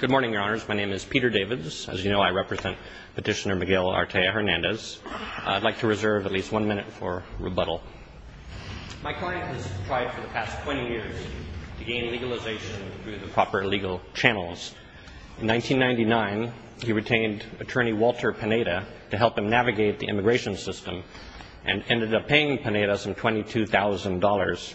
Good morning, Your Honors. My name is Peter Davids. As you know, I represent Petitioner Miguel Artea Hernandez. I'd like to reserve at least one minute for rebuttal. My client has tried for the past 20 years to gain legalization through the proper legal channels. In 1999, he retained attorney Walter Pineda to help him navigate the immigration system and ended up paying Pineda some $22,000.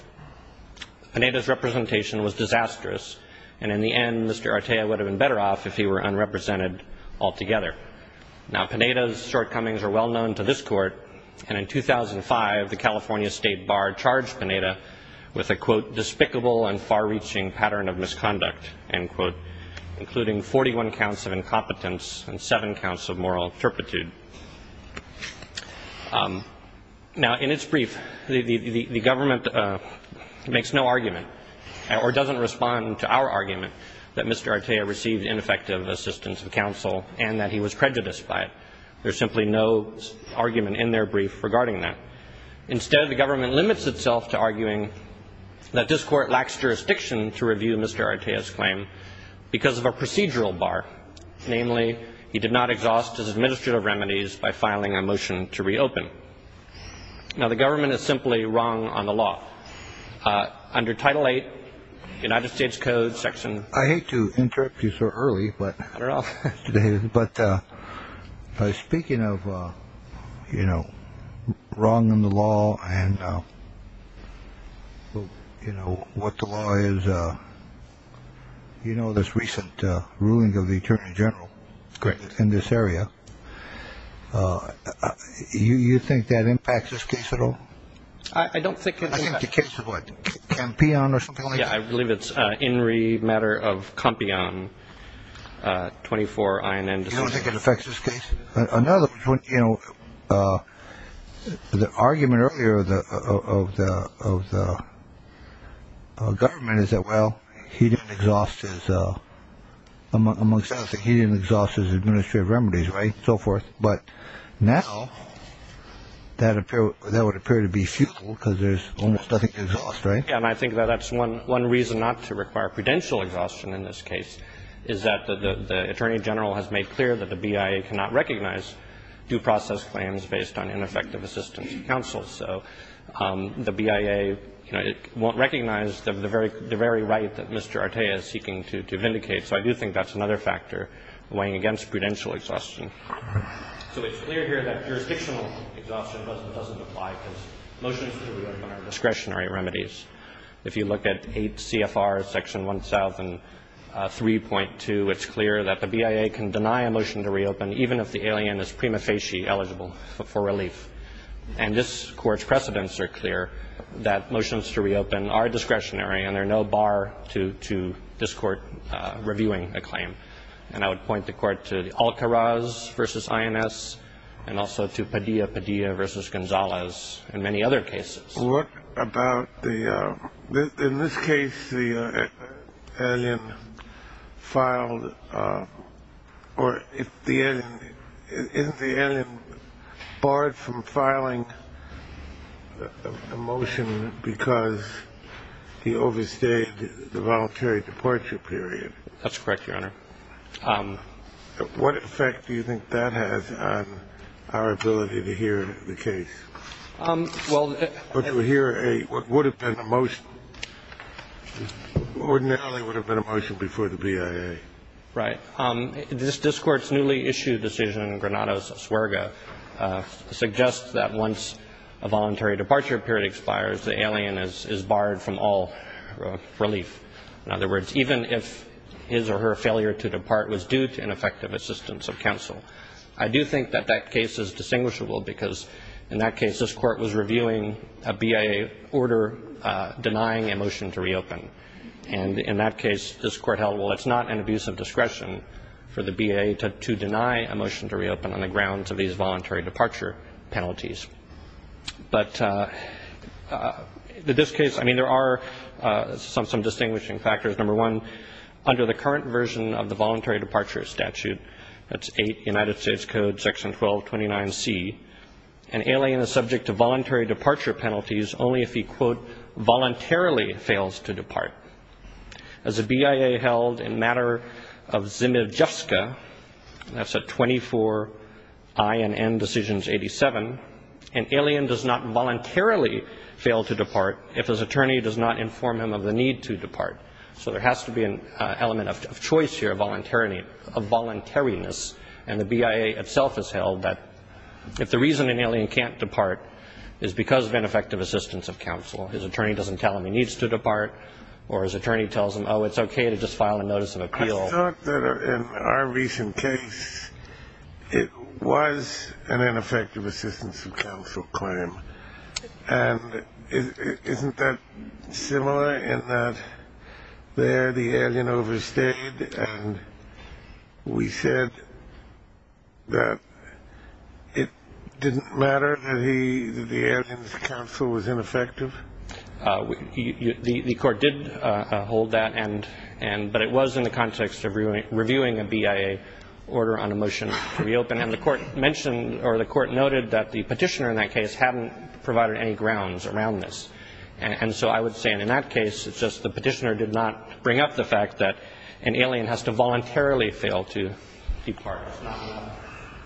Pineda's representation was disastrous, and in the end, Mr. Artea would have been better off if he were unrepresented altogether. Now, Pineda's shortcomings are well known to this Court, and in 2005, the California State Bar charged Pineda with a, quote, despicable and far-reaching pattern of misconduct, end quote, including 41 counts of incompetence and 7 counts of moral turpitude. Now, in its brief, the government makes no argument or doesn't respond to our argument that Mr. Artea received ineffective assistance of counsel and that he was prejudiced by it. There's simply no argument in their brief regarding that. Instead, the government limits itself to arguing that this Court lacks jurisdiction to review Mr. Artea's claim because of a procedural bar, namely he did not exhaust his administrative remedies by filing a motion to reopen. Now, the government is simply wrong on the law. Under Title VIII of the United States Code, Section – I hate to interrupt you so early, but – I don't know. You know this recent ruling of the attorney general in this area. Do you think that impacts this case at all? I don't think – I think the case of what, Campeon or something like that? Yeah, I believe it's in re matter of Campeon, 24 INN decisions. You don't think it affects this case? In other words, you know, the argument earlier of the government is that, well, he didn't exhaust his – he didn't exhaust his administrative remedies, right, and so forth. But now that would appear to be futile because there's almost nothing to exhaust, right? Yeah, and I think that that's one reason not to require prudential exhaustion in this case, is that the attorney general has made clear that the BIA cannot recognize due process claims based on ineffective assistance to counsel. So the BIA, you know, won't recognize the very right that Mr. Artea is seeking to vindicate. So I do think that's another factor weighing against prudential exhaustion. So it's clear here that jurisdictional exhaustion doesn't apply because motions to reopen are discretionary remedies. If you look at 8 CFR Section 1003.2, it's clear that the BIA can deny a motion to reopen even if the alien is prima facie eligible for relief. And this Court's precedents are clear that motions to reopen are discretionary, and they're no bar to this Court reviewing a claim. And I would point the Court to Alcaraz v. INS and also to Padilla, Padilla v. Gonzalez and many other cases. What about the – in this case, the alien filed – or if the alien – isn't the alien barred from filing a motion because he overstayed the voluntary departure period? That's correct, Your Honor. What effect do you think that has on our ability to hear the case? Well – But to hear a – what would have been the most – ordinarily would have been a motion before the BIA. Right. This – this Court's newly issued decision, Granados-Suerga, suggests that once a voluntary departure period expires, the alien is barred from all relief. In other words, even if his or her failure to depart was due to ineffective assistance of counsel. I do think that that case is distinguishable because, in that case, this Court was reviewing a BIA order denying a motion to reopen. And in that case, this Court held, well, it's not an abuse of discretion for the BIA to deny a motion to reopen on the grounds of these voluntary departure penalties. But the – this case – I mean, there are some distinguishing factors. Number one, under the current version of the Voluntary Departure Statute, that's 8 United States Code section 1229C, an alien is subject to voluntary departure penalties only if he, quote, voluntarily fails to depart. As the BIA held in matter of Zimev-Juska, that's at 24 I&N decisions 87, an alien does not voluntarily fail to depart if his attorney does not inform him of the need to depart. So there has to be an element of choice here, of voluntariness. And the BIA itself has held that if the reason an alien can't depart is because of ineffective assistance of counsel, his attorney doesn't tell him he needs to depart, or his attorney tells him, oh, it's okay to just file a notice of appeal. I thought that in our recent case, it was an ineffective assistance of counsel claim. And isn't that similar in that there the alien overstayed and we said that it didn't matter that he – the alien's counsel was ineffective? The court did hold that, but it was in the context of reviewing a BIA order on a motion to reopen. And the court mentioned or the court noted that the petitioner in that case hadn't provided any grounds around this. And so I would say in that case, it's just the petitioner did not bring up the fact that an alien has to voluntarily fail to depart.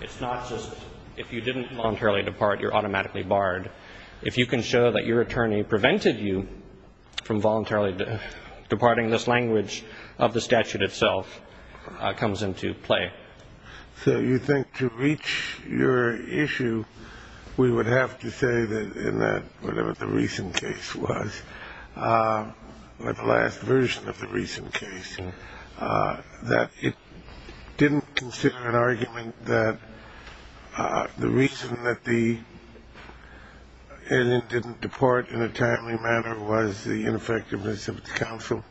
It's not just if you didn't voluntarily depart, you're automatically barred. If you can show that your attorney prevented you from voluntarily departing, this language of the statute itself comes into play. So you think to reach your issue, we would have to say that in that whatever the recent case was, the last version of the recent case, that it didn't consider an argument that the reason that the alien didn't depart in a timely manner was the ineffectiveness of the counsel?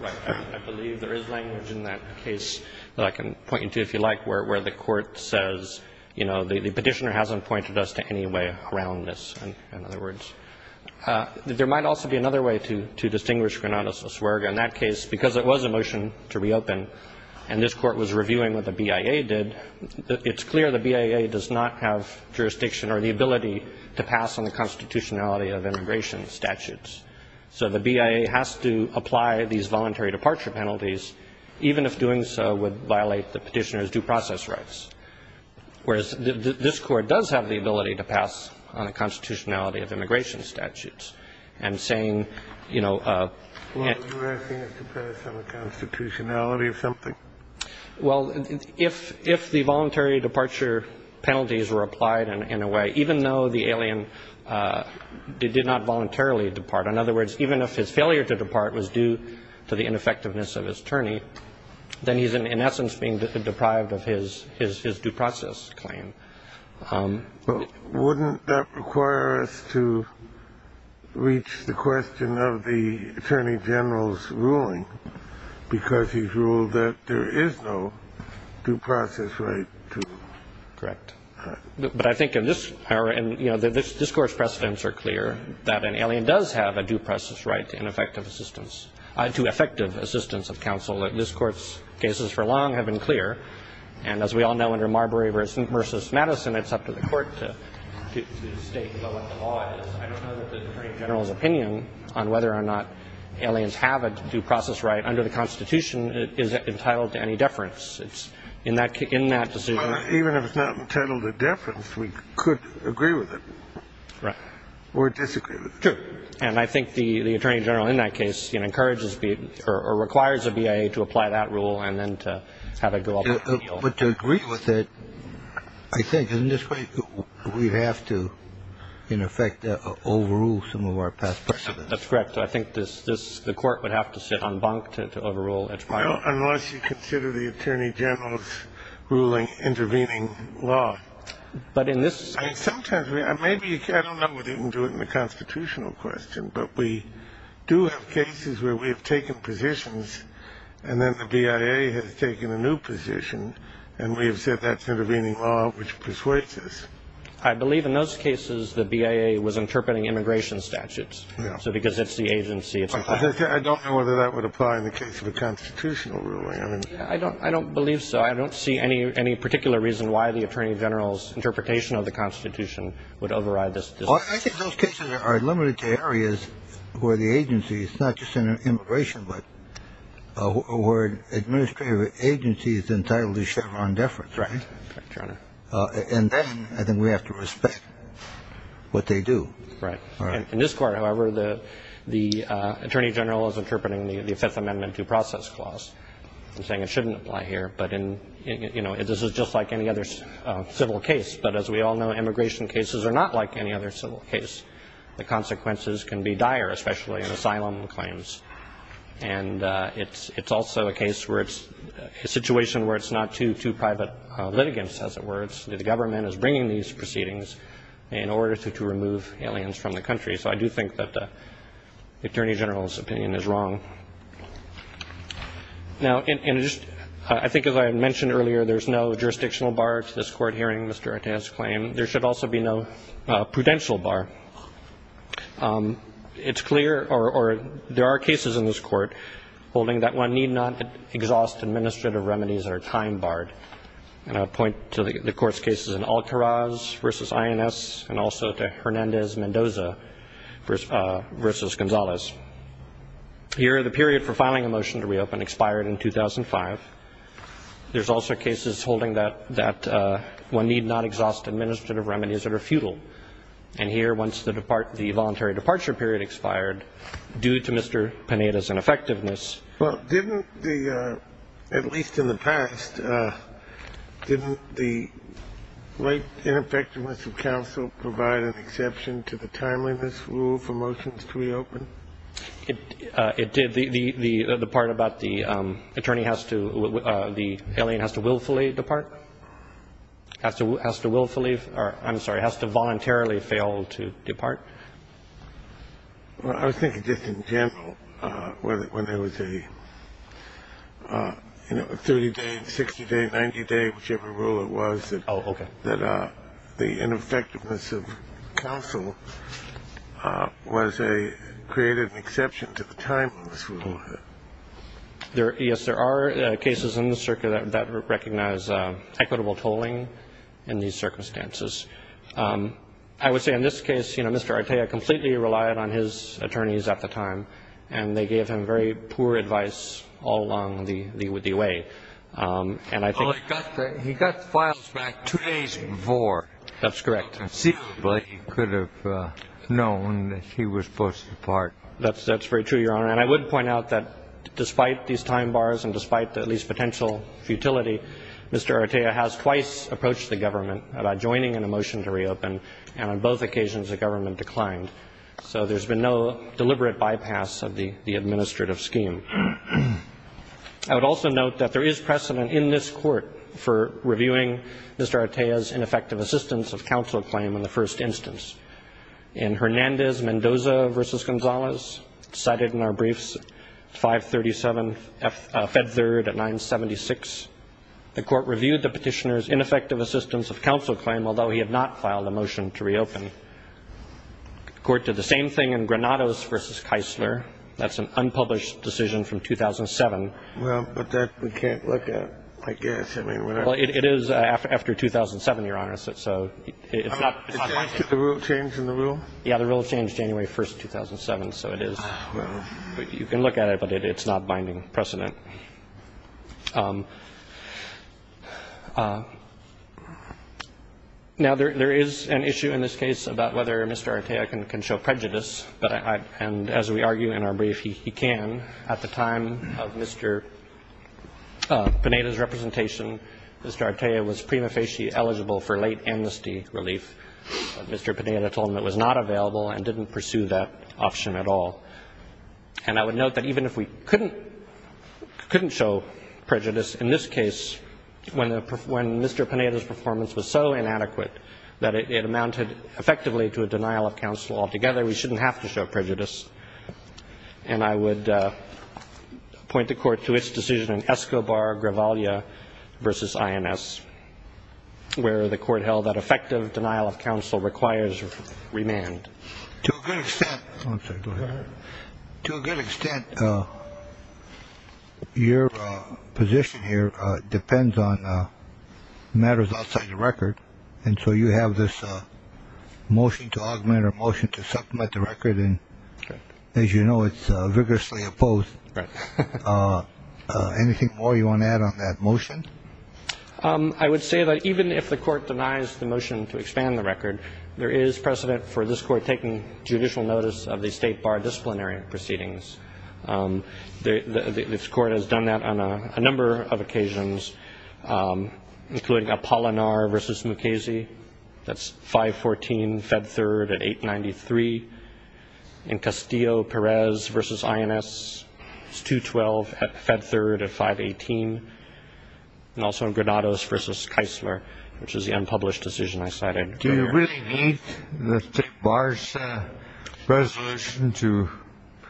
Right. I believe there is language in that case that I can point you to, if you like, where the court says, you know, the petitioner hasn't pointed us to any way around this, in other words. There might also be another way to distinguish Granada-Suswerga. In that case, because it was a motion to reopen and this Court was reviewing what the BIA did, it's clear the BIA does not have jurisdiction or the ability to pass on the constitutionality of immigration statutes. So the BIA has to apply these voluntary departure penalties, even if doing so would violate the petitioner's due process rights. Whereas this Court does have the ability to pass on the constitutionality of immigration statutes. I'm saying, you know... Well, are you asking us to pass on the constitutionality of something? Well, if the voluntary departure penalties were applied in a way, even though the alien did not voluntarily depart, in other words, even if his failure to depart was due to the ineffectiveness of his attorney, then he's in essence being deprived of his due process claim. But wouldn't that require us to reach the question of the Attorney General's ruling? Because he's ruled that there is no due process right to... Correct. But I think in this, you know, this Court's precedents are clear, that an alien does have a due process right to effective assistance of counsel. This Court's cases for long have been clear. And as we all know, under Marbury v. Madison, it's up to the Court to state what the law is. I don't know that the Attorney General's opinion on whether or not aliens have a due process right under the Constitution is entitled to any deference in that decision. Even if it's not entitled to deference, we could agree with it. Right. Or disagree with it. Sure. And I think the Attorney General in that case encourages or requires the BIA to apply that rule and then to have it go up in the field. But to agree with it, I think in this way we'd have to, in effect, overrule some of our past precedents. That's correct. I think the Court would have to sit on bunk to overrule its part. Well, unless you consider the Attorney General's ruling intervening law. But in this... I don't know whether you can do it in the constitutional question, but we do have cases where we have taken positions and then the BIA has taken a new position and we have said that's intervening law, which persuades us. I believe in those cases the BIA was interpreting immigration statutes. So because it's the agency... I don't know whether that would apply in the case of a constitutional ruling. I don't believe so. I don't see any particular reason why the Attorney General's interpretation of the Constitution would override this. I think those cases are limited to areas where the agency is not just in immigration, but where an administrative agency is entitled to Chevron deference. Right. And then I think we have to respect what they do. Right. In this Court, however, the Attorney General is interpreting the Fifth Amendment due process clause and saying it shouldn't apply here, but this is just like any other civil case. But as we all know, immigration cases are not like any other civil case. The consequences can be dire, especially in asylum claims. And it's also a case where it's a situation where it's not due to private litigants, as it were. The government is bringing these proceedings in order to remove aliens from the country. So I do think that the Attorney General's opinion is wrong. Now, I think as I mentioned earlier, there's no jurisdictional bar to this Court hearing Mr. Artez's claim. There should also be no prudential bar. It's clear, or there are cases in this Court holding that one need not exhaust administrative remedies that are time-barred. And I'll point to the Court's cases in Altaraz v. INS and also to Hernandez-Mendoza v. Gonzalez. Here, the period for filing a motion to reopen expired in 2005. There's also cases holding that one need not exhaust administrative remedies that are futile. And here, once the voluntary departure period expired, due to Mr. Panetta's ineffectiveness Well, didn't the, at least in the past, didn't the late ineffectiveness of counsel provide an exception to the timeliness rule for motions to reopen? It did. The part about the attorney has to, the alien has to willfully depart, has to willfully, or I'm sorry, has to voluntarily fail to depart. I was thinking just in general, when there was a 30-day, 60-day, 90-day, whichever rule it was, that the ineffectiveness of counsel was a, created an exception to the timeliness rule. Yes, there are cases in the circuit that recognize equitable tolling in these circumstances. I would say in this case, you know, Mr. Artea completely relied on his attorneys at the time, and they gave him very poor advice all along the way. Oh, he got the files back two days before. That's correct. So conceivably he could have known that he was supposed to depart. That's very true, Your Honor. And I would point out that despite these time bars and despite at least potential futility, Mr. Artea has twice approached the government about joining in a motion to reopen, and on both occasions the government declined. So there's been no deliberate bypass of the administrative scheme. I would also note that there is precedent in this court for reviewing Mr. Artea's ineffective assistance of counsel claim in the first instance. In Hernandez-Mendoza v. Gonzalez, cited in our briefs, 5-37, Fed Third at 9-76, the court reviewed the petitioner's ineffective assistance of counsel claim, although he had not filed a motion to reopen. The court did the same thing in Granados v. Keisler. That's an unpublished decision from 2007. Well, but that we can't look at, I guess. I mean, whatever. Well, it is after 2007, Your Honor, so it's not likely. Is that the rule change in the rule? Yeah, the rule changed January 1, 2007, so it is. Oh, well. But you can look at it, but it's not binding precedent. Now, there is an issue in this case about whether Mr. Artea can show prejudice, and as we argue in our brief, he can. At the time of Mr. Panetta's representation, Mr. Artea was prima facie eligible for late amnesty relief. Mr. Panetta told him it was not available and didn't pursue that option at all. And I would note that even if we couldn't show prejudice in this case, when Mr. Panetta's performance was so inadequate that it amounted effectively to a denial of counsel altogether, we shouldn't have to show prejudice. And I would point the Court to its decision in Escobar-Gravaglia v. INS, where the Court held that effective denial of counsel requires remand. To a good extent, your position here depends on matters outside the record, and so you have this motion to augment or motion to supplement the record, and as you know, it's vigorously opposed. Anything more you want to add on that motion? I would say that even if the Court denies the motion to expand the record, there is precedent for this Court taking judicial notice of the state bar disciplinary proceedings. This Court has done that on a number of occasions, including Apollinar v. Mukasey. That's 5-14, Fed Third at 8-93. In Castillo-Perez v. INS, it's 2-12 at Fed Third at 5-18. And also in Granados v. Keisler, which is the unpublished decision I cited earlier. Do they need the state bar's resolution to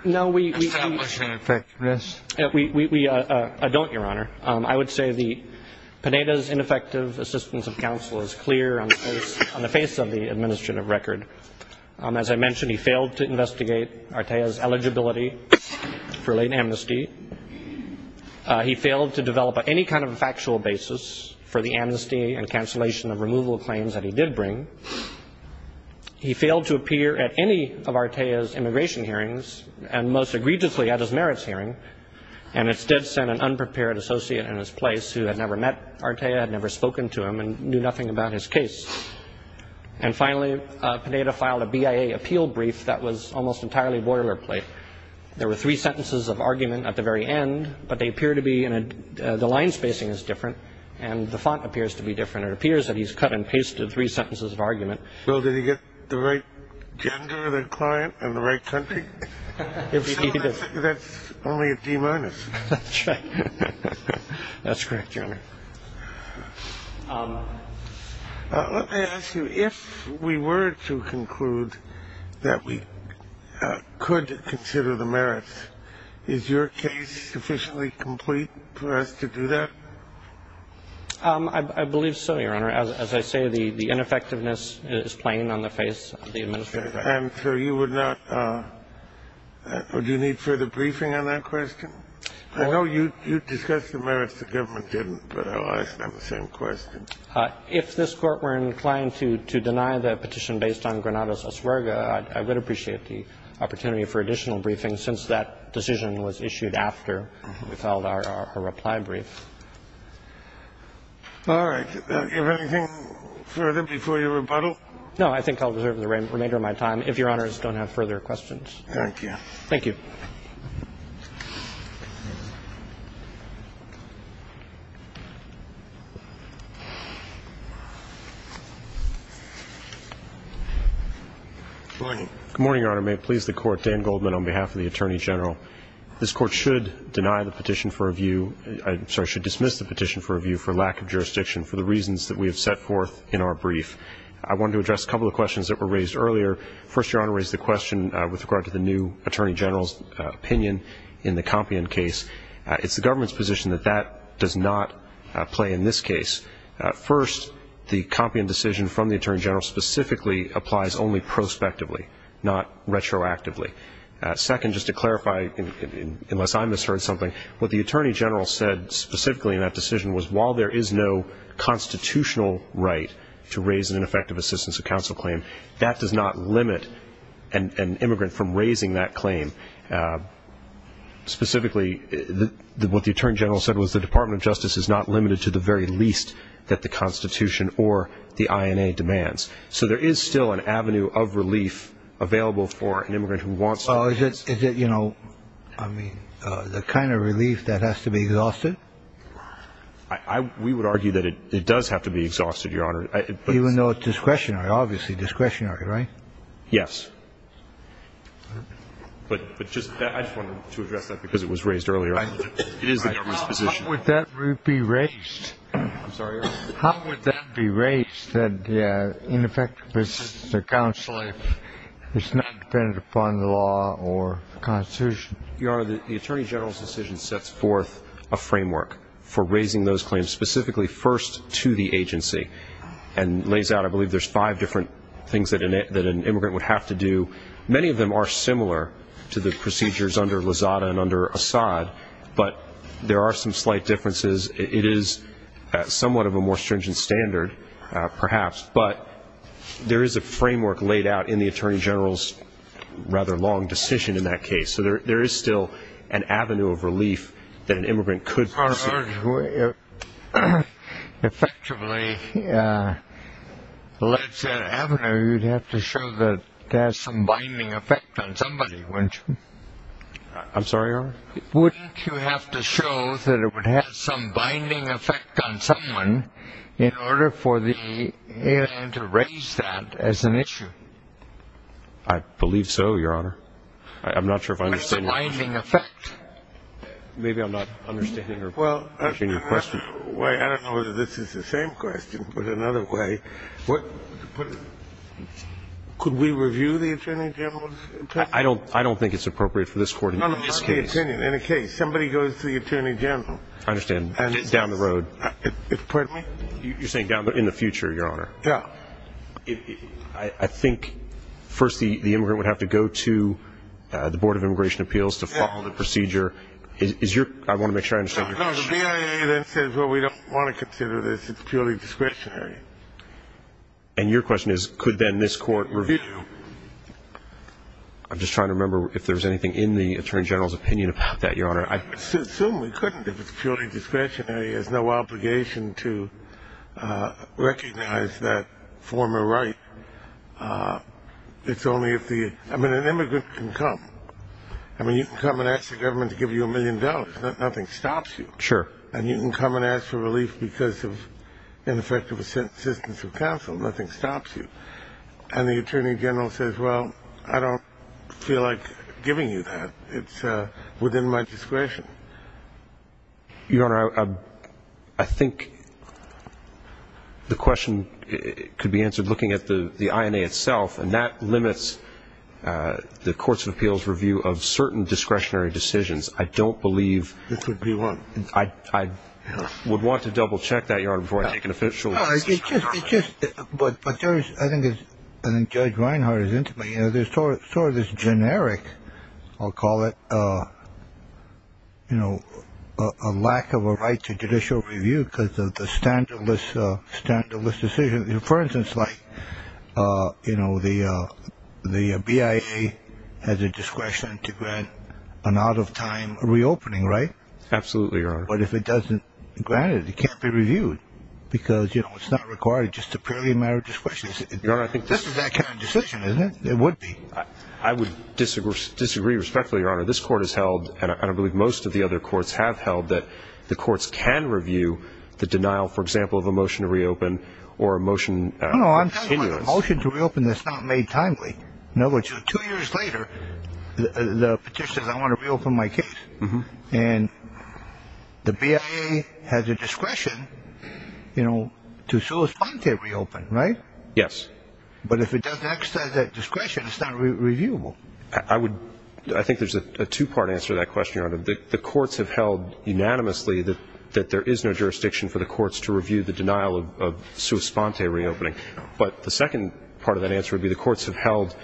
establish ineffectiveness? We don't, Your Honor. I would say that Panetta's ineffective assistance of counsel is clear on the face of the administrative record. As I mentioned, he failed to investigate Artea's eligibility for late amnesty. He failed to develop any kind of factual basis for the amnesty and cancellation of removal claims that he did bring. He failed to appear at any of Artea's immigration hearings, and most egregiously at his merits hearing, and instead sent an unprepared associate in his place who had never met Artea, had never spoken to him, and knew nothing about his case. And finally, Panetta filed a BIA appeal brief that was almost entirely boilerplate. There were three sentences of argument at the very end, but they appear to be in a – the line spacing is different and the font appears to be different. It appears that he's cut and pasted three sentences of argument. Well, did he get the right gender of the client and the right country? That's only a D minus. That's right. That's correct, Your Honor. Let me ask you, if we were to conclude that we could consider the merits, is your case sufficiently complete for us to do that? I believe so, Your Honor. As I say, the ineffectiveness is plain on the face of the administrative act. And so you would not – do you need further briefing on that question? I know you discussed the merits. The government didn't, but I'll ask them the same question. If this Court were inclined to deny the petition based on Granada's Oswerga, I would appreciate the opportunity for additional briefing, since that decision was issued after we filed our reply brief. All right. Is there anything further before you rebuttal? No, I think I'll reserve the remainder of my time, if Your Honors don't have further questions. Thank you. Thank you. Good morning. Good morning, Your Honor. May it please the Court, Dan Goldman on behalf of the Attorney General. This Court should deny the petition for review – I'm sorry, should dismiss the petition for review for lack of jurisdiction for the reasons that we have set forth in our brief. I wanted to address a couple of questions that were raised earlier. First, Your Honor, raised the question with regard to the new Attorney General's opinion in the Compion case. It's the government's position that that does not play in this case. First, the Compion decision from the Attorney General specifically applies only prospectively, not retroactively. Second, just to clarify, unless I misheard something, what the Attorney General said specifically in that decision was, while there is no constitutional right to raise an ineffective assistance of counsel claim, that does not limit an immigrant from raising that claim. Specifically, what the Attorney General said was, the Department of Justice is not limited to the very least that the Constitution or the INA demands. So there is still an avenue of relief available for an immigrant who wants that assistance. Is it, you know, the kind of relief that has to be exhausted? We would argue that it does have to be exhausted, Your Honor. Even though it's discretionary, obviously discretionary, right? Yes. But I just wanted to address that because it was raised earlier. It is the government's position. How would that be raised? I'm sorry, Your Honor? How would that be raised, that the ineffective assistance of counsel is not dependent upon the law or the Constitution? Your Honor, the Attorney General's decision sets forth a framework for raising those claims, specifically first to the agency, and lays out, I believe, there's five different things that an immigrant would have to do. Many of them are similar to the procedures under Lozada and under Assad, but there are some slight differences. It is somewhat of a more stringent standard, perhaps, but there is a framework laid out in the Attorney General's rather long decision in that case. So there is still an avenue of relief that an immigrant could pursue. Effectively, you'd have to show that it has some binding effect on somebody, wouldn't you? I'm sorry, Your Honor? Wouldn't you have to show that it would have some binding effect on someone in order for the airline to raise that as an issue? I believe so, Your Honor. I'm not sure if I understand what you're saying. What's the binding effect? Maybe I'm not understanding. Well, I don't know whether this is the same question, but another way. Could we review the Attorney General's opinion? I don't think it's appropriate for this Court in this case. In a case, somebody goes to the Attorney General. I understand. Down the road. Pardon me? You're saying down the road, in the future, Your Honor. Yeah. I think, first, the immigrant would have to go to the Board of Immigration Appeals to follow the procedure. I want to make sure I understand your question. No, no. The BIA then says, well, we don't want to consider this. It's purely discretionary. And your question is, could then this Court review? I'm just trying to remember if there's anything in the Attorney General's opinion about that, Your Honor. I assume we couldn't if it's purely discretionary. There's no obligation to recognize that former right. It's only if the immigrant can come. I mean, you can come and ask the government to give you a million dollars. Nothing stops you. Sure. And you can come and ask for relief because of ineffective assistance of counsel. Nothing stops you. And the Attorney General says, well, I don't feel like giving you that. It's within my discretion. Your Honor, I think the question could be answered looking at the INA itself, and that limits the Courts of Appeals review of certain discretionary decisions. I don't believe. This would be one. I would want to double-check that, Your Honor, before I take an official. But I think Judge Reinhart is intimate. There's sort of this generic, I'll call it, you know, a lack of a right to judicial review because of the standardless decision. For instance, like, you know, the BIA has a discretion to grant an out-of-time reopening, right? Absolutely, Your Honor. But if it doesn't grant it, it can't be reviewed because, you know, it's not required just a purely a matter of discretion. This is that kind of decision, isn't it? It would be. I would disagree respectfully, Your Honor. This Court has held, and I believe most of the other courts have held, that the courts can review the denial, for example, of a motion to reopen or a motion of continuance. No, I'm talking about a motion to reopen that's not made timely. In other words, two years later, the petitioner says, I want to reopen my case. And the BIA has a discretion, you know, to respond to a reopen, right? Yes. But if it doesn't exercise that discretion, it's not reviewable. I think there's a two-part answer to that question, Your Honor. The courts have held unanimously that there is no jurisdiction for the courts to review the denial of sua sponte reopening. But the second part of that answer would be the courts have held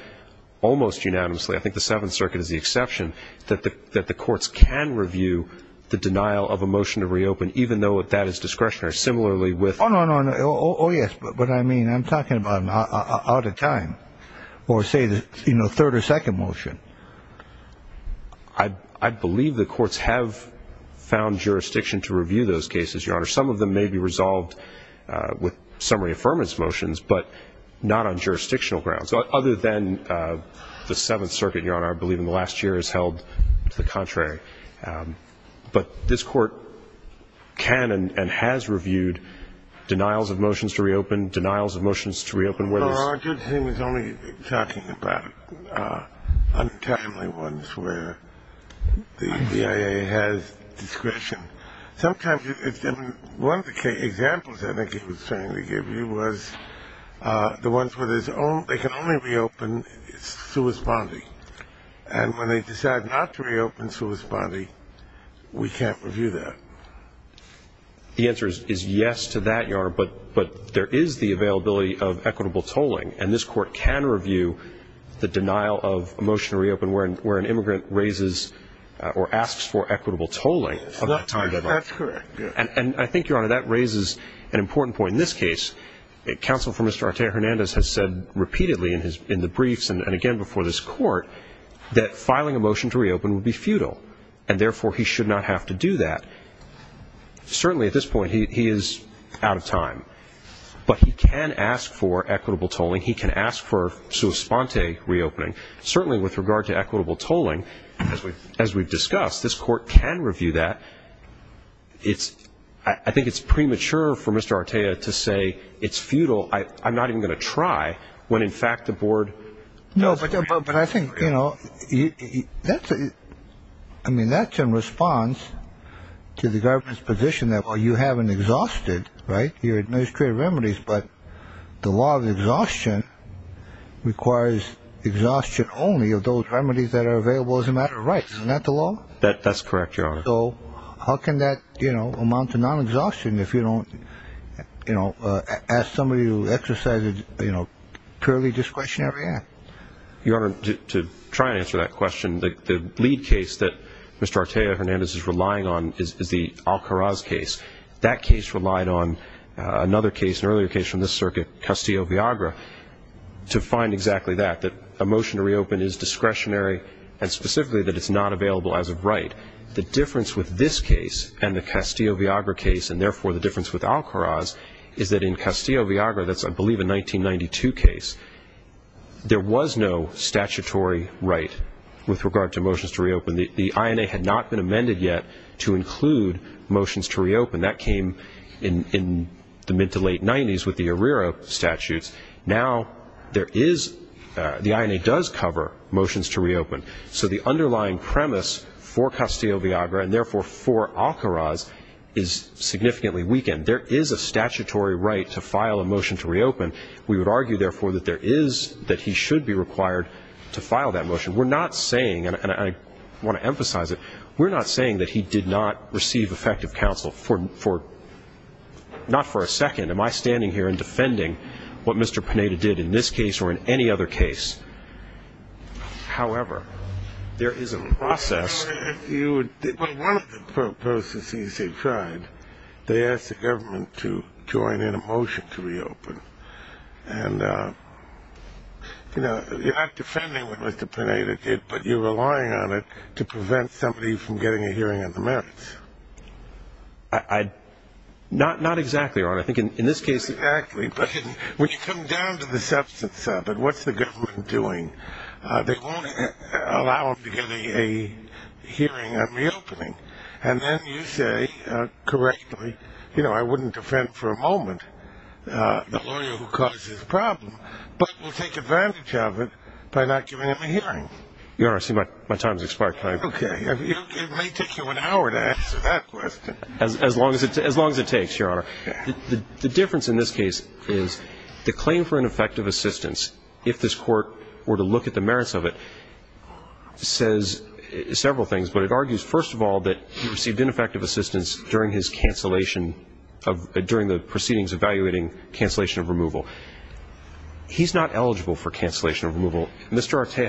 almost unanimously, I think the Seventh Circuit is the exception, that the courts can review the denial of a motion to reopen, even though that is discretionary. Similarly, with ---- Oh, no, no, no. Oh, yes. But, I mean, I'm talking about out of time or, say, the, you know, third or second motion. I believe the courts have found jurisdiction to review those cases, Your Honor. Some of them may be resolved with summary affirmance motions, but not on jurisdictional grounds, other than the Seventh Circuit, Your Honor, I believe in the last year has held to the contrary. But this court can and has reviewed denials of motions to reopen, denials of motions to reopen where there's ---- Your Honor, he was only talking about untimely ones where the BIA has discretion. Sometimes it's different. One of the examples I think he was trying to give you was the ones where they can only reopen sua sponte. And when they decide not to reopen sua sponte, we can't review that. The answer is yes to that, Your Honor, but there is the availability of equitable tolling, and this court can review the denial of a motion to reopen where an immigrant raises or asks for equitable tolling. That's correct. And I think, Your Honor, that raises an important point. In this case, counsel for Mr. Arte Hernandez has said repeatedly in the briefs and again before this court that filing a motion to reopen would be futile, and therefore he should not have to do that. Certainly at this point he is out of time, but he can ask for equitable tolling. He can ask for sua sponte reopening. Certainly with regard to equitable tolling, as we've discussed, this court can review that. I think it's premature for Mr. Arte to say it's futile. I'm not even going to try when, in fact, the board doesn't. But I think, you know, I mean, that's in response to the government's position that, well, you haven't exhausted your administrative remedies, but the law of exhaustion requires exhaustion only of those remedies that are available as a matter of rights. Isn't that the law? That's correct, Your Honor. So how can that amount to non-exhaustion if you don't ask somebody to exercise a purely discretionary act? Your Honor, to try and answer that question, the lead case that Mr. Arte Hernandez is relying on is the Alcaraz case. That case relied on another case, an earlier case from this circuit, Castillo-Viagra, to find exactly that, that a motion to reopen is discretionary and specifically that it's not available as a right. The difference with this case and the Castillo-Viagra case, and therefore the difference with Alcaraz, is that in Castillo-Viagra, that's I believe a 1992 case, there was no statutory right with regard to motions to reopen. The INA had not been amended yet to include motions to reopen. That came in the mid-to-late 90s with the Arrera statutes. Now there is the INA does cover motions to reopen. So the underlying premise for Castillo-Viagra, and therefore for Alcaraz, is significantly weakened. We would argue, therefore, that there is, that he should be required to file that motion. We're not saying, and I want to emphasize it, we're not saying that he did not receive effective counsel for, not for a second. Am I standing here and defending what Mr. Pineda did in this case or in any other case? However, there is a process. Well, one of the processes they tried, they asked the government to join in a motion to reopen. And, you know, you're not defending what Mr. Pineda did, but you're relying on it to prevent somebody from getting a hearing on the merits. Not exactly, Your Honor. I think in this case. Exactly, but when you come down to the substance of it, what's the government doing? They won't allow him to get a hearing on reopening. And then you say, correctly, you know, I wouldn't defend for a moment the lawyer who caused this problem, but we'll take advantage of it by not giving him a hearing. Your Honor, I see my time has expired. Okay. It may take you an hour to answer that question. As long as it takes, Your Honor. The difference in this case is the claim for ineffective assistance, if this Court were to look at the merits of it, says several things. But it argues, first of all, that he received ineffective assistance during his cancellation of the proceedings evaluating cancellation of removal. He's not eligible for cancellation of removal. Mr. Artea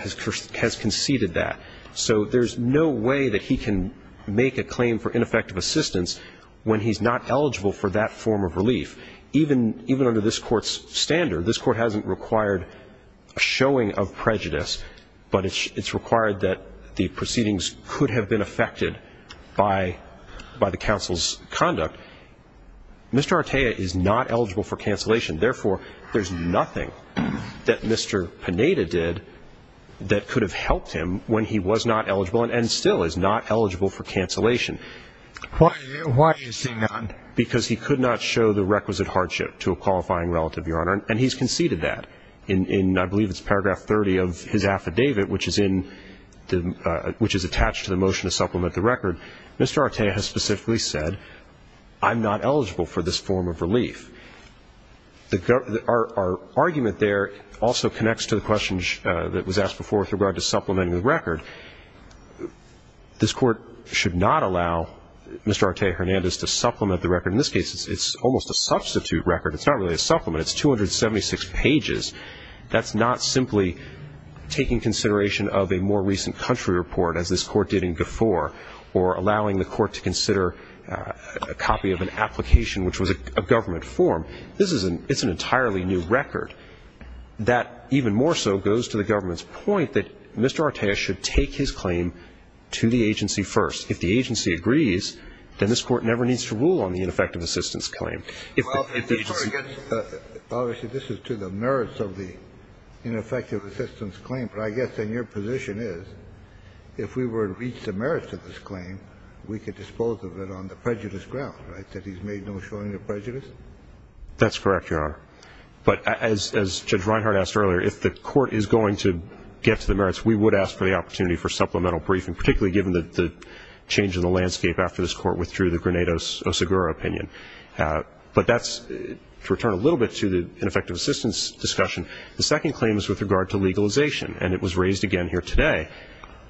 has conceded that. So there's no way that he can make a claim for ineffective assistance when he's not eligible for that form of relief. Even under this Court's standard, this Court hasn't required a showing of prejudice, but it's required that the proceedings could have been affected by the counsel's conduct. Mr. Artea is not eligible for cancellation. Therefore, there's nothing that Mr. Pineda did that could have helped him when he was not eligible and still is not eligible for cancellation. Why is he not? Because he could not show the requisite hardship to a qualifying relative, Your Honor, and he's conceded that. In I believe it's paragraph 30 of his affidavit, which is attached to the motion to supplement the record, Mr. Artea has specifically said, I'm not eligible for this form of relief. Our argument there also connects to the question that was asked before with regard to supplementing the record. This Court should not allow Mr. Artea Hernandez to supplement the record. In this case, it's almost a substitute record. It's not really a supplement. It's 276 pages. That's not simply taking consideration of a more recent country report, as this Court did in GFOR, or allowing the Court to consider a copy of an application, which was a government form. This is an entirely new record. That even more so goes to the government's point that Mr. Artea should take his claim to the agency first. If the agency agrees, then this Court never needs to rule on the ineffective assistance claim. Obviously, this is to the merits of the ineffective assistance claim. But I guess then your position is, if we were to reach the merits of this claim, we could dispose of it on the prejudice ground, right, that he's made no showing of prejudice? That's correct, Your Honor. But as Judge Reinhart asked earlier, if the Court is going to get to the merits, we would ask for the opportunity for supplemental briefing, particularly given the change in the landscape after this Court withdrew the Grenade-Osagura opinion. But that's to return a little bit to the ineffective assistance discussion. The second claim is with regard to legalization, and it was raised again here today.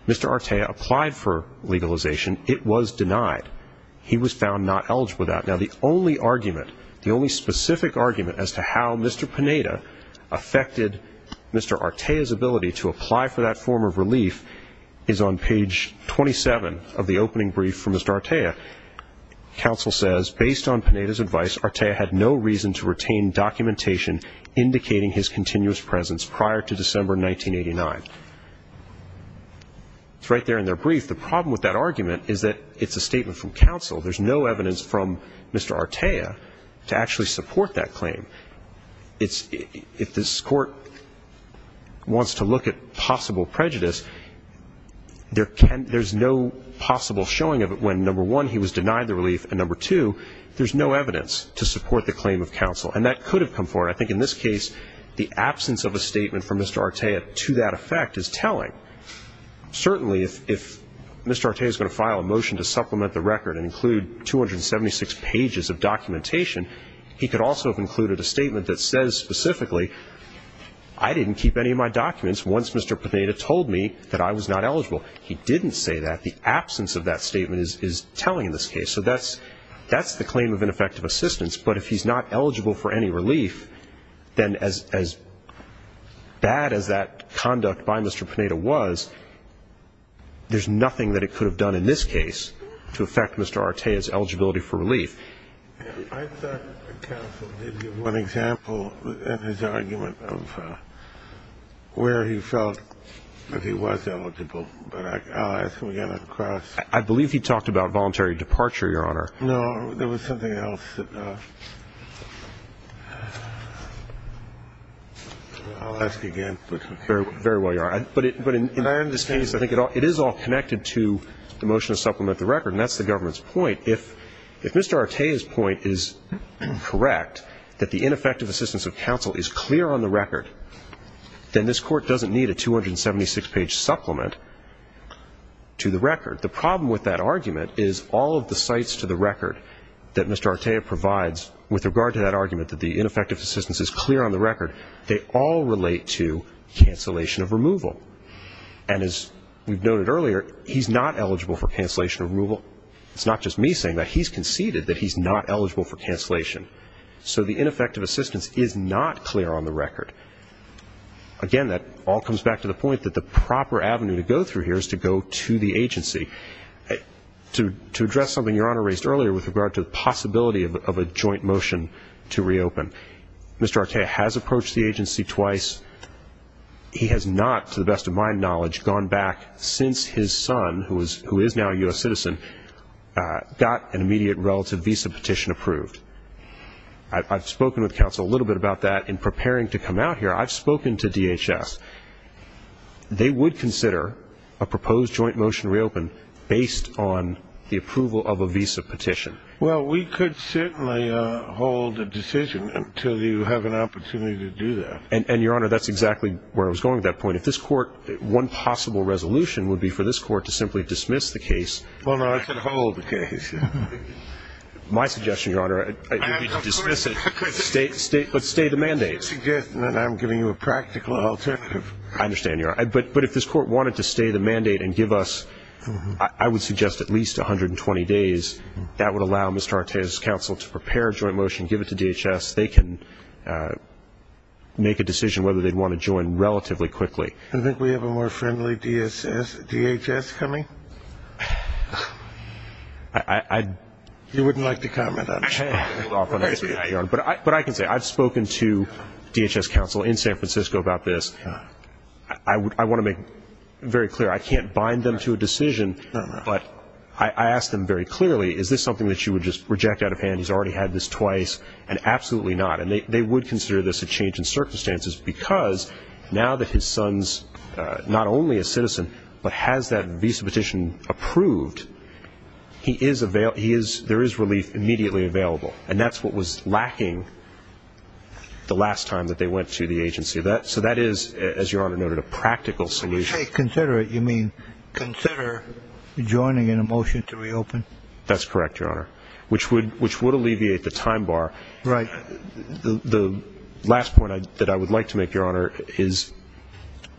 Mr. Artea applied for legalization. It was denied. He was found not eligible for that. Now, the only argument, the only specific argument, as to how Mr. Pineda affected Mr. Artea's ability to apply for that form of relief is on page 27 of the opening brief from Mr. Artea. The counsel says, Based on Pineda's advice, Artea had no reason to retain documentation indicating his continuous presence prior to December 1989. It's right there in their brief. The problem with that argument is that it's a statement from counsel. There's no evidence from Mr. Artea to actually support that claim. If this Court wants to look at possible prejudice, there's no possible showing of it when, number one, he was denied the relief, and, number two, there's no evidence to support the claim of counsel. And that could have come forward. I think in this case, the absence of a statement from Mr. Artea to that effect is telling. Certainly, if Mr. Artea is going to file a motion to supplement the record and include 276 pages of documentation, he could also have included a statement that says specifically, I didn't keep any of my documents once Mr. Pineda told me that I was not eligible. He didn't say that. The absence of that statement is telling in this case. So that's the claim of ineffective assistance. But if he's not eligible for any relief, then as bad as that conduct by Mr. Pineda was, there's nothing that it could have done in this case to affect Mr. Artea's eligibility for relief. I thought counsel did give one example in his argument of where he felt that he was eligible. But I'll ask him again on the cross. I believe he talked about voluntary departure, Your Honor. No, there was something else. I'll ask again. Very well, Your Honor. But in this case, I think it is all connected to the motion to supplement the record, and that's the government's point. If Mr. Artea's point is correct, that the ineffective assistance of counsel is clear on the record, then this Court doesn't need a 276-page supplement to the record. The problem with that argument is all of the cites to the record that Mr. Artea provides with regard to that argument that the ineffective assistance is clear on the record, they all relate to cancellation of removal. And as we've noted earlier, he's not eligible for cancellation of removal. It's not just me saying that. He's conceded that he's not eligible for cancellation. So the ineffective assistance is not clear on the record. Again, that all comes back to the point that the proper avenue to go through here is to go to the agency to address something Your Honor raised earlier with regard to the possibility of a joint motion to reopen. Mr. Artea has approached the agency twice. He has not, to the best of my knowledge, gone back since his son, who is now a U.S. citizen, got an immediate relative visa petition approved. I've spoken with counsel a little bit about that in preparing to come out here. I've spoken to DHS. They would consider a proposed joint motion to reopen based on the approval of a visa petition. Well, we could certainly hold a decision until you have an opportunity to do that. And, Your Honor, that's exactly where I was going with that point. If this court, one possible resolution would be for this court to simply dismiss the case. Well, no, I could hold the case. My suggestion, Your Honor, would be to dismiss it, but stay the mandate. I'm not suggesting that I'm giving you a practical alternative. I understand, Your Honor. But if this court wanted to stay the mandate and give us, I would suggest, at least 120 days, that would allow Mr. Artea's counsel to prepare a joint motion, give it to DHS. They can make a decision whether they'd want to join relatively quickly. Do you think we have a more friendly DHS coming? You wouldn't like to comment on that. But I can say, I've spoken to DHS counsel in San Francisco about this. I want to make very clear, I can't bind them to a decision, but I ask them very clearly, is this something that you would just reject out of hand? He's already had this twice. And absolutely not. And they would consider this a change in circumstances because now that his son's not only a citizen, but has that visa petition approved, there is relief immediately available. And that's what was lacking the last time that they went to the agency. So that is, as Your Honor noted, a practical solution. When you say consider it, you mean consider joining in a motion to reopen? That's correct, Your Honor. Which would alleviate the time bar. Right. The last point that I would like to make, Your Honor, is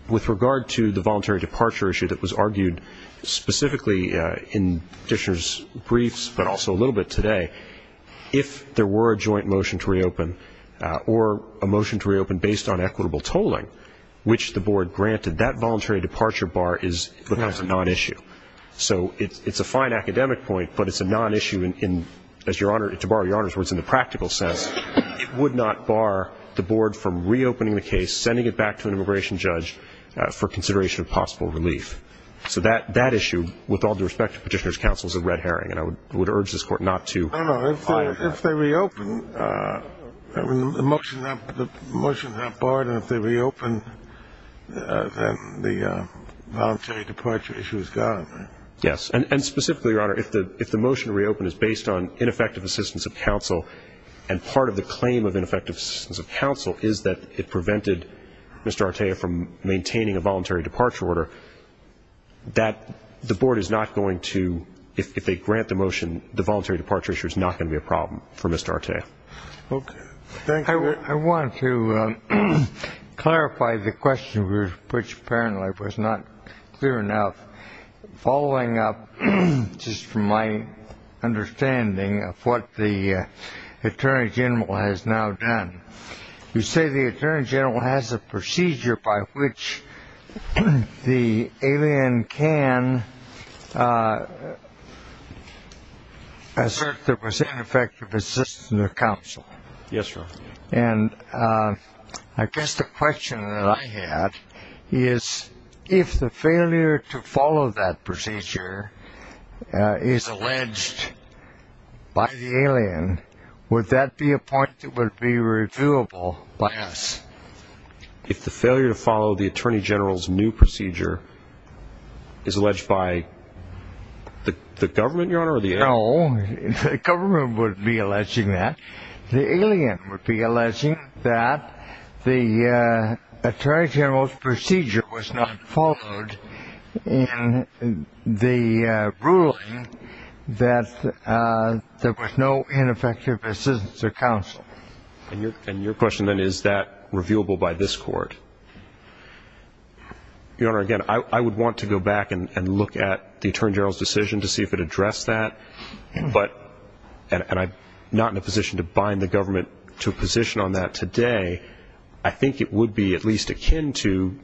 with regard to the voluntary departure issue that was argued specifically in the petitioner's briefs, but also a little bit today, if there were a joint motion to reopen or a motion to reopen based on equitable tolling, which the board granted, that voluntary departure bar becomes a non-issue. So it's a fine academic point, but it's a non-issue in, as Your Honor, to borrow Your Honor's words, in the practical sense. It would not bar the board from reopening the case, sending it back to an immigration judge for consideration of possible relief. So that issue, with all due respect to petitioner's counsel, is a red herring. And I would urge this Court not to fire it. No, no. If they reopen, the motion is not barred, then the voluntary departure issue is gone. Yes. And specifically, Your Honor, if the motion to reopen is based on ineffective assistance of counsel and part of the claim of ineffective assistance of counsel is that it prevented Mr. Artea from maintaining a voluntary departure order, that the board is not going to, if they grant the motion, the voluntary departure issue is not going to be a problem for Mr. Artea. Okay. Thank you. I want to clarify the question, which apparently was not clear enough. Following up just from my understanding of what the Attorney General has now done, you say the Attorney General has a procedure by which the alien can assert there was ineffective assistance of counsel. Yes, Your Honor. And I guess the question that I had is if the failure to follow that procedure is alleged by the alien, would that be a point that would be reviewable by us? If the failure to follow the Attorney General's new procedure is alleged by the government, Your Honor? No, the government would be alleging that. The alien would be alleging that the Attorney General's procedure was not followed in the ruling that there was no ineffective assistance of counsel. And your question then is that reviewable by this court? Your Honor, again, I would want to go back and look at the Attorney General's decision to see if it addressed that, and I'm not in a position to bind the government to a position on that today. I think it would be at least akin to,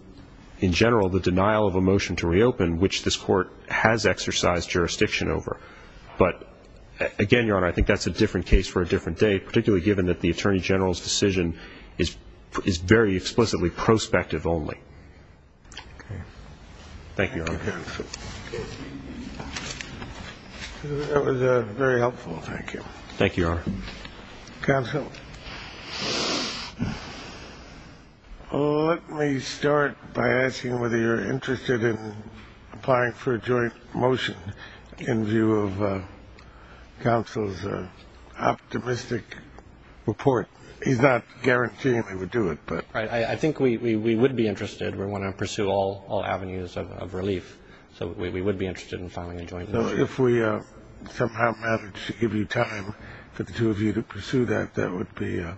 in general, the denial of a motion to reopen, which this court has exercised jurisdiction over. But, again, Your Honor, I think that's a different case for a different day, particularly given that the Attorney General's decision is very explicitly prospective only. Okay. Thank you, Your Honor. Thank you, counsel. That was very helpful. Thank you. Thank you, Your Honor. Counsel, let me start by asking whether you're interested in applying for a joint motion in view of counsel's optimistic report. He's not guaranteeing we would do it. I think we would be interested. We want to pursue all avenues of relief. So we would be interested in filing a joint motion. So if we somehow managed to give you time for the two of you to pursue that, that would be a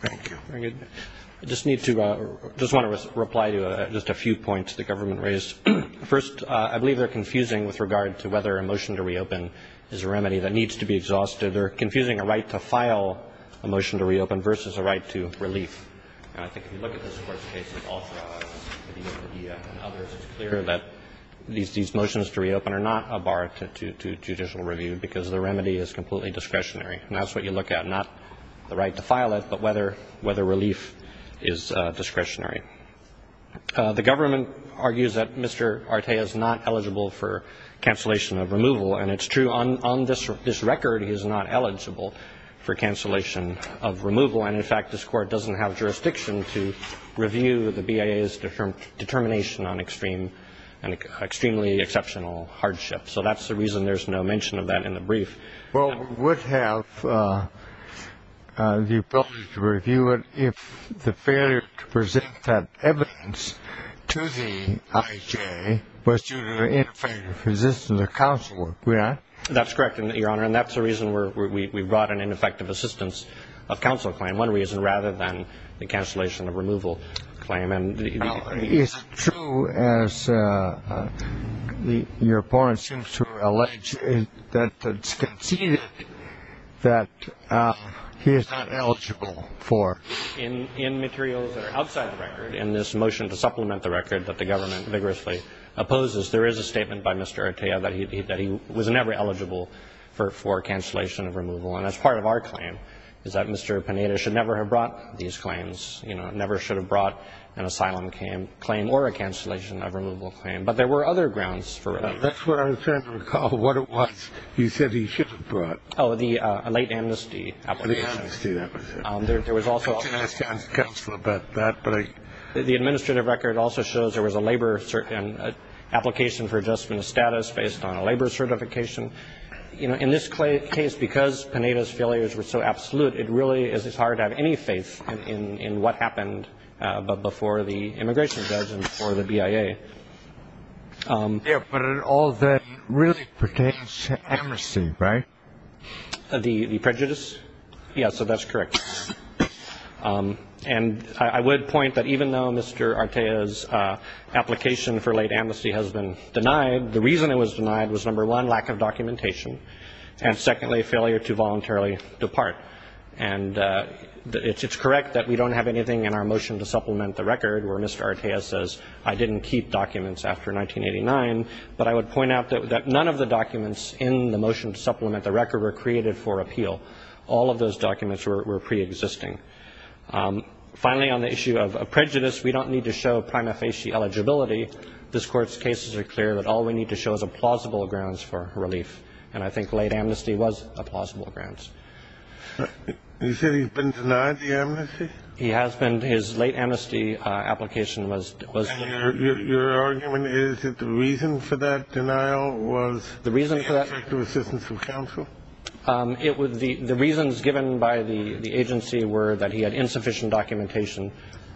thank you. I just want to reply to just a few points the government raised. First, I believe they're confusing with regard to whether a motion to reopen is a remedy that needs to be exhausted. They're confusing a right to file a motion to reopen versus a right to relief. And I think if you look at this Court's case, it's clear that these motions to reopen are not a bar to judicial review because the remedy is completely discretionary. And that's what you look at, not the right to file it, but whether relief is discretionary. The government argues that Mr. Arte is not eligible for cancellation of removal. And it's true. On this record, he is not eligible for cancellation of removal. And, in fact, this Court doesn't have jurisdiction to review the BIA's determination on extreme and extremely exceptional hardship. So that's the reason there's no mention of that in the brief. Well, we would have the ability to review it if the failure to present that evidence to the IJ was due to an ineffective resistance of counsel, correct? That's correct, Your Honor. And that's the reason we brought an ineffective assistance of counsel claim, one reason, rather than the cancellation of removal claim. Is it true, as your opponent seems to allege, that it's conceded that he is not eligible for? In materials that are outside the record, in this motion to supplement the record that the government vigorously opposes, there is a statement by Mr. Arte that he was never eligible for cancellation of removal. And that's part of our claim, is that Mr. Pineda should never have brought these claims, you know, never should have brought an asylum claim or a cancellation of removal claim. But there were other grounds for it. That's what I'm trying to recall, what it was you said he should have brought. Oh, the late amnesty application. The amnesty, that was it. I can ask counsel about that. The administrative record also shows there was a labor application for adjustment of status based on a labor certification. You know, in this case, because Pineda's failures were so absolute, it really is hard to have any faith in what happened before the immigration judge and before the BIA. Yeah, but all that really pertains to amnesty, right? The prejudice? Yeah, so that's correct. And I would point that even though Mr. Arte's application for late amnesty has been denied, the reason it was denied was, number one, lack of documentation, and secondly, failure to voluntarily depart. And it's correct that we don't have anything in our motion to supplement the record where Mr. Arte says, I didn't keep documents after 1989. But I would point out that none of the documents in the motion to supplement the record were created for appeal. All of those documents were preexisting. Finally, on the issue of prejudice, we don't need to show prima facie eligibility. This Court's cases are clear that all we need to show is a plausible grounds for relief. And I think late amnesty was a plausible grounds. You said he's been denied the amnesty? He has been. His late amnesty application was denied. And your argument is that the reason for that denial was lack of assistance from counsel? The reasons given by the agency were that he had insufficient documentation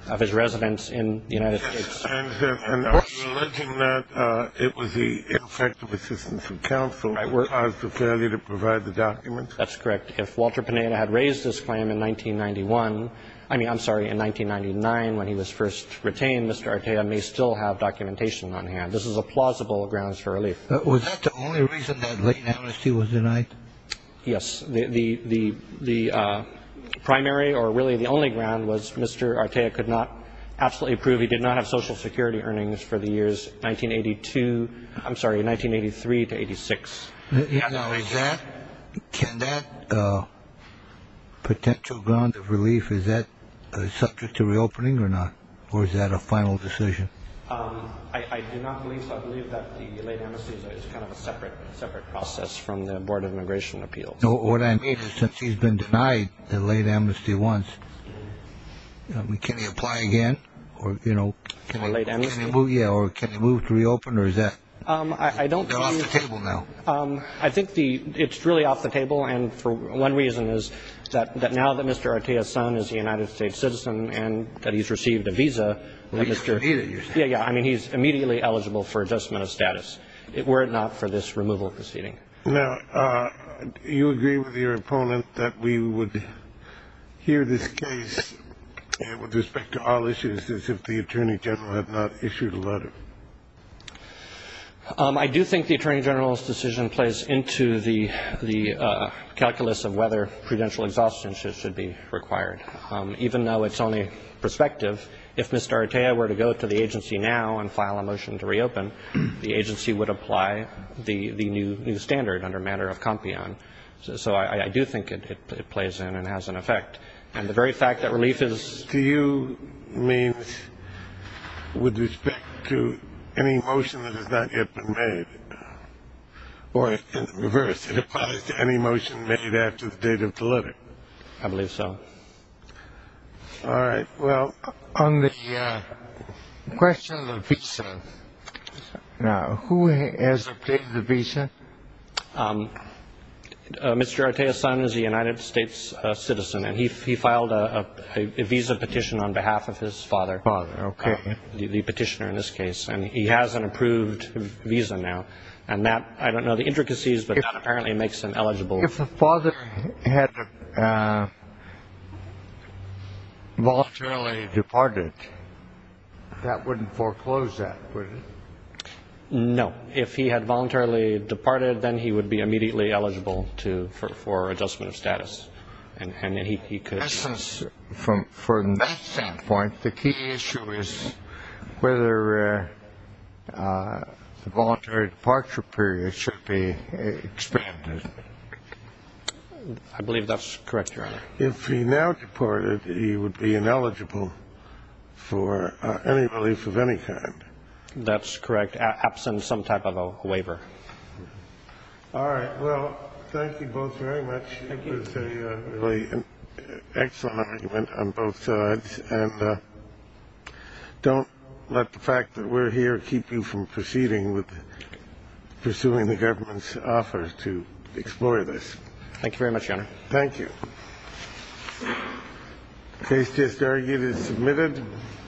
of his residence in the United States. And are you alleging that it was the ineffective assistance of counsel that caused the failure to provide the documents? That's correct. If Walter Pineda had raised this claim in 1991, I mean, I'm sorry, in 1999 when he was first retained, Mr. Arte may still have documentation on hand. This is a plausible grounds for relief. Was that the only reason that late amnesty was denied? Yes. The primary or really the only ground was Mr. Arte could not absolutely prove he did not have Social Security earnings for the years 1982 – I'm sorry, 1983 to 86. Now, is that – can that potential grounds of relief, is that subject to reopening or not? Or is that a final decision? I do not believe so. I believe that the late amnesty is kind of a separate process from the Board of Immigration Appeals. What I mean is since he's been denied the late amnesty once, can he apply again or, you know – Can the late amnesty? Yeah. Or can he move to reopen or is that – they're off the table now. I think it's really off the table. And one reason is that now that Mr. Arte's son is a United States citizen and that he's received a visa – Yeah, yeah. I mean, he's immediately eligible for adjustment of status were it not for this removal proceeding. Now, do you agree with your opponent that we would hear this case with respect to all issues as if the Attorney General had not issued a letter? I do think the Attorney General's decision plays into the calculus of whether prudential exhaustion should be required. Even though it's only prospective, if Mr. Arte were to go to the agency now and file a motion to reopen, the agency would apply the new standard under a matter of compion. So I do think it plays in and has an effect. And the very fact that relief is – To you means with respect to any motion that has not yet been made, or in reverse, it applies to any motion made after the date of delivery. I believe so. All right. Well, on the question of the visa, now, who has updated the visa? Mr. Arte's son is a United States citizen, and he filed a visa petition on behalf of his father. Father, okay. The petitioner in this case. And he has an approved visa now. And that – I don't know the intricacies, but that apparently makes him eligible. If the father had voluntarily departed, that wouldn't foreclose that, would it? No. If he had voluntarily departed, then he would be immediately eligible for adjustment of status. And he could – From that standpoint, the key issue is whether the voluntary departure period should be expanded. I believe that's correct, Your Honor. If he now deported, he would be ineligible for any relief of any kind. That's correct, absent some type of a waiver. All right. Well, thank you both very much. It was a really excellent argument on both sides. And don't let the fact that we're here keep you from proceeding with pursuing the government's offer to explore this. Thank you very much, Your Honor. Thank you. The case just argued is submitted.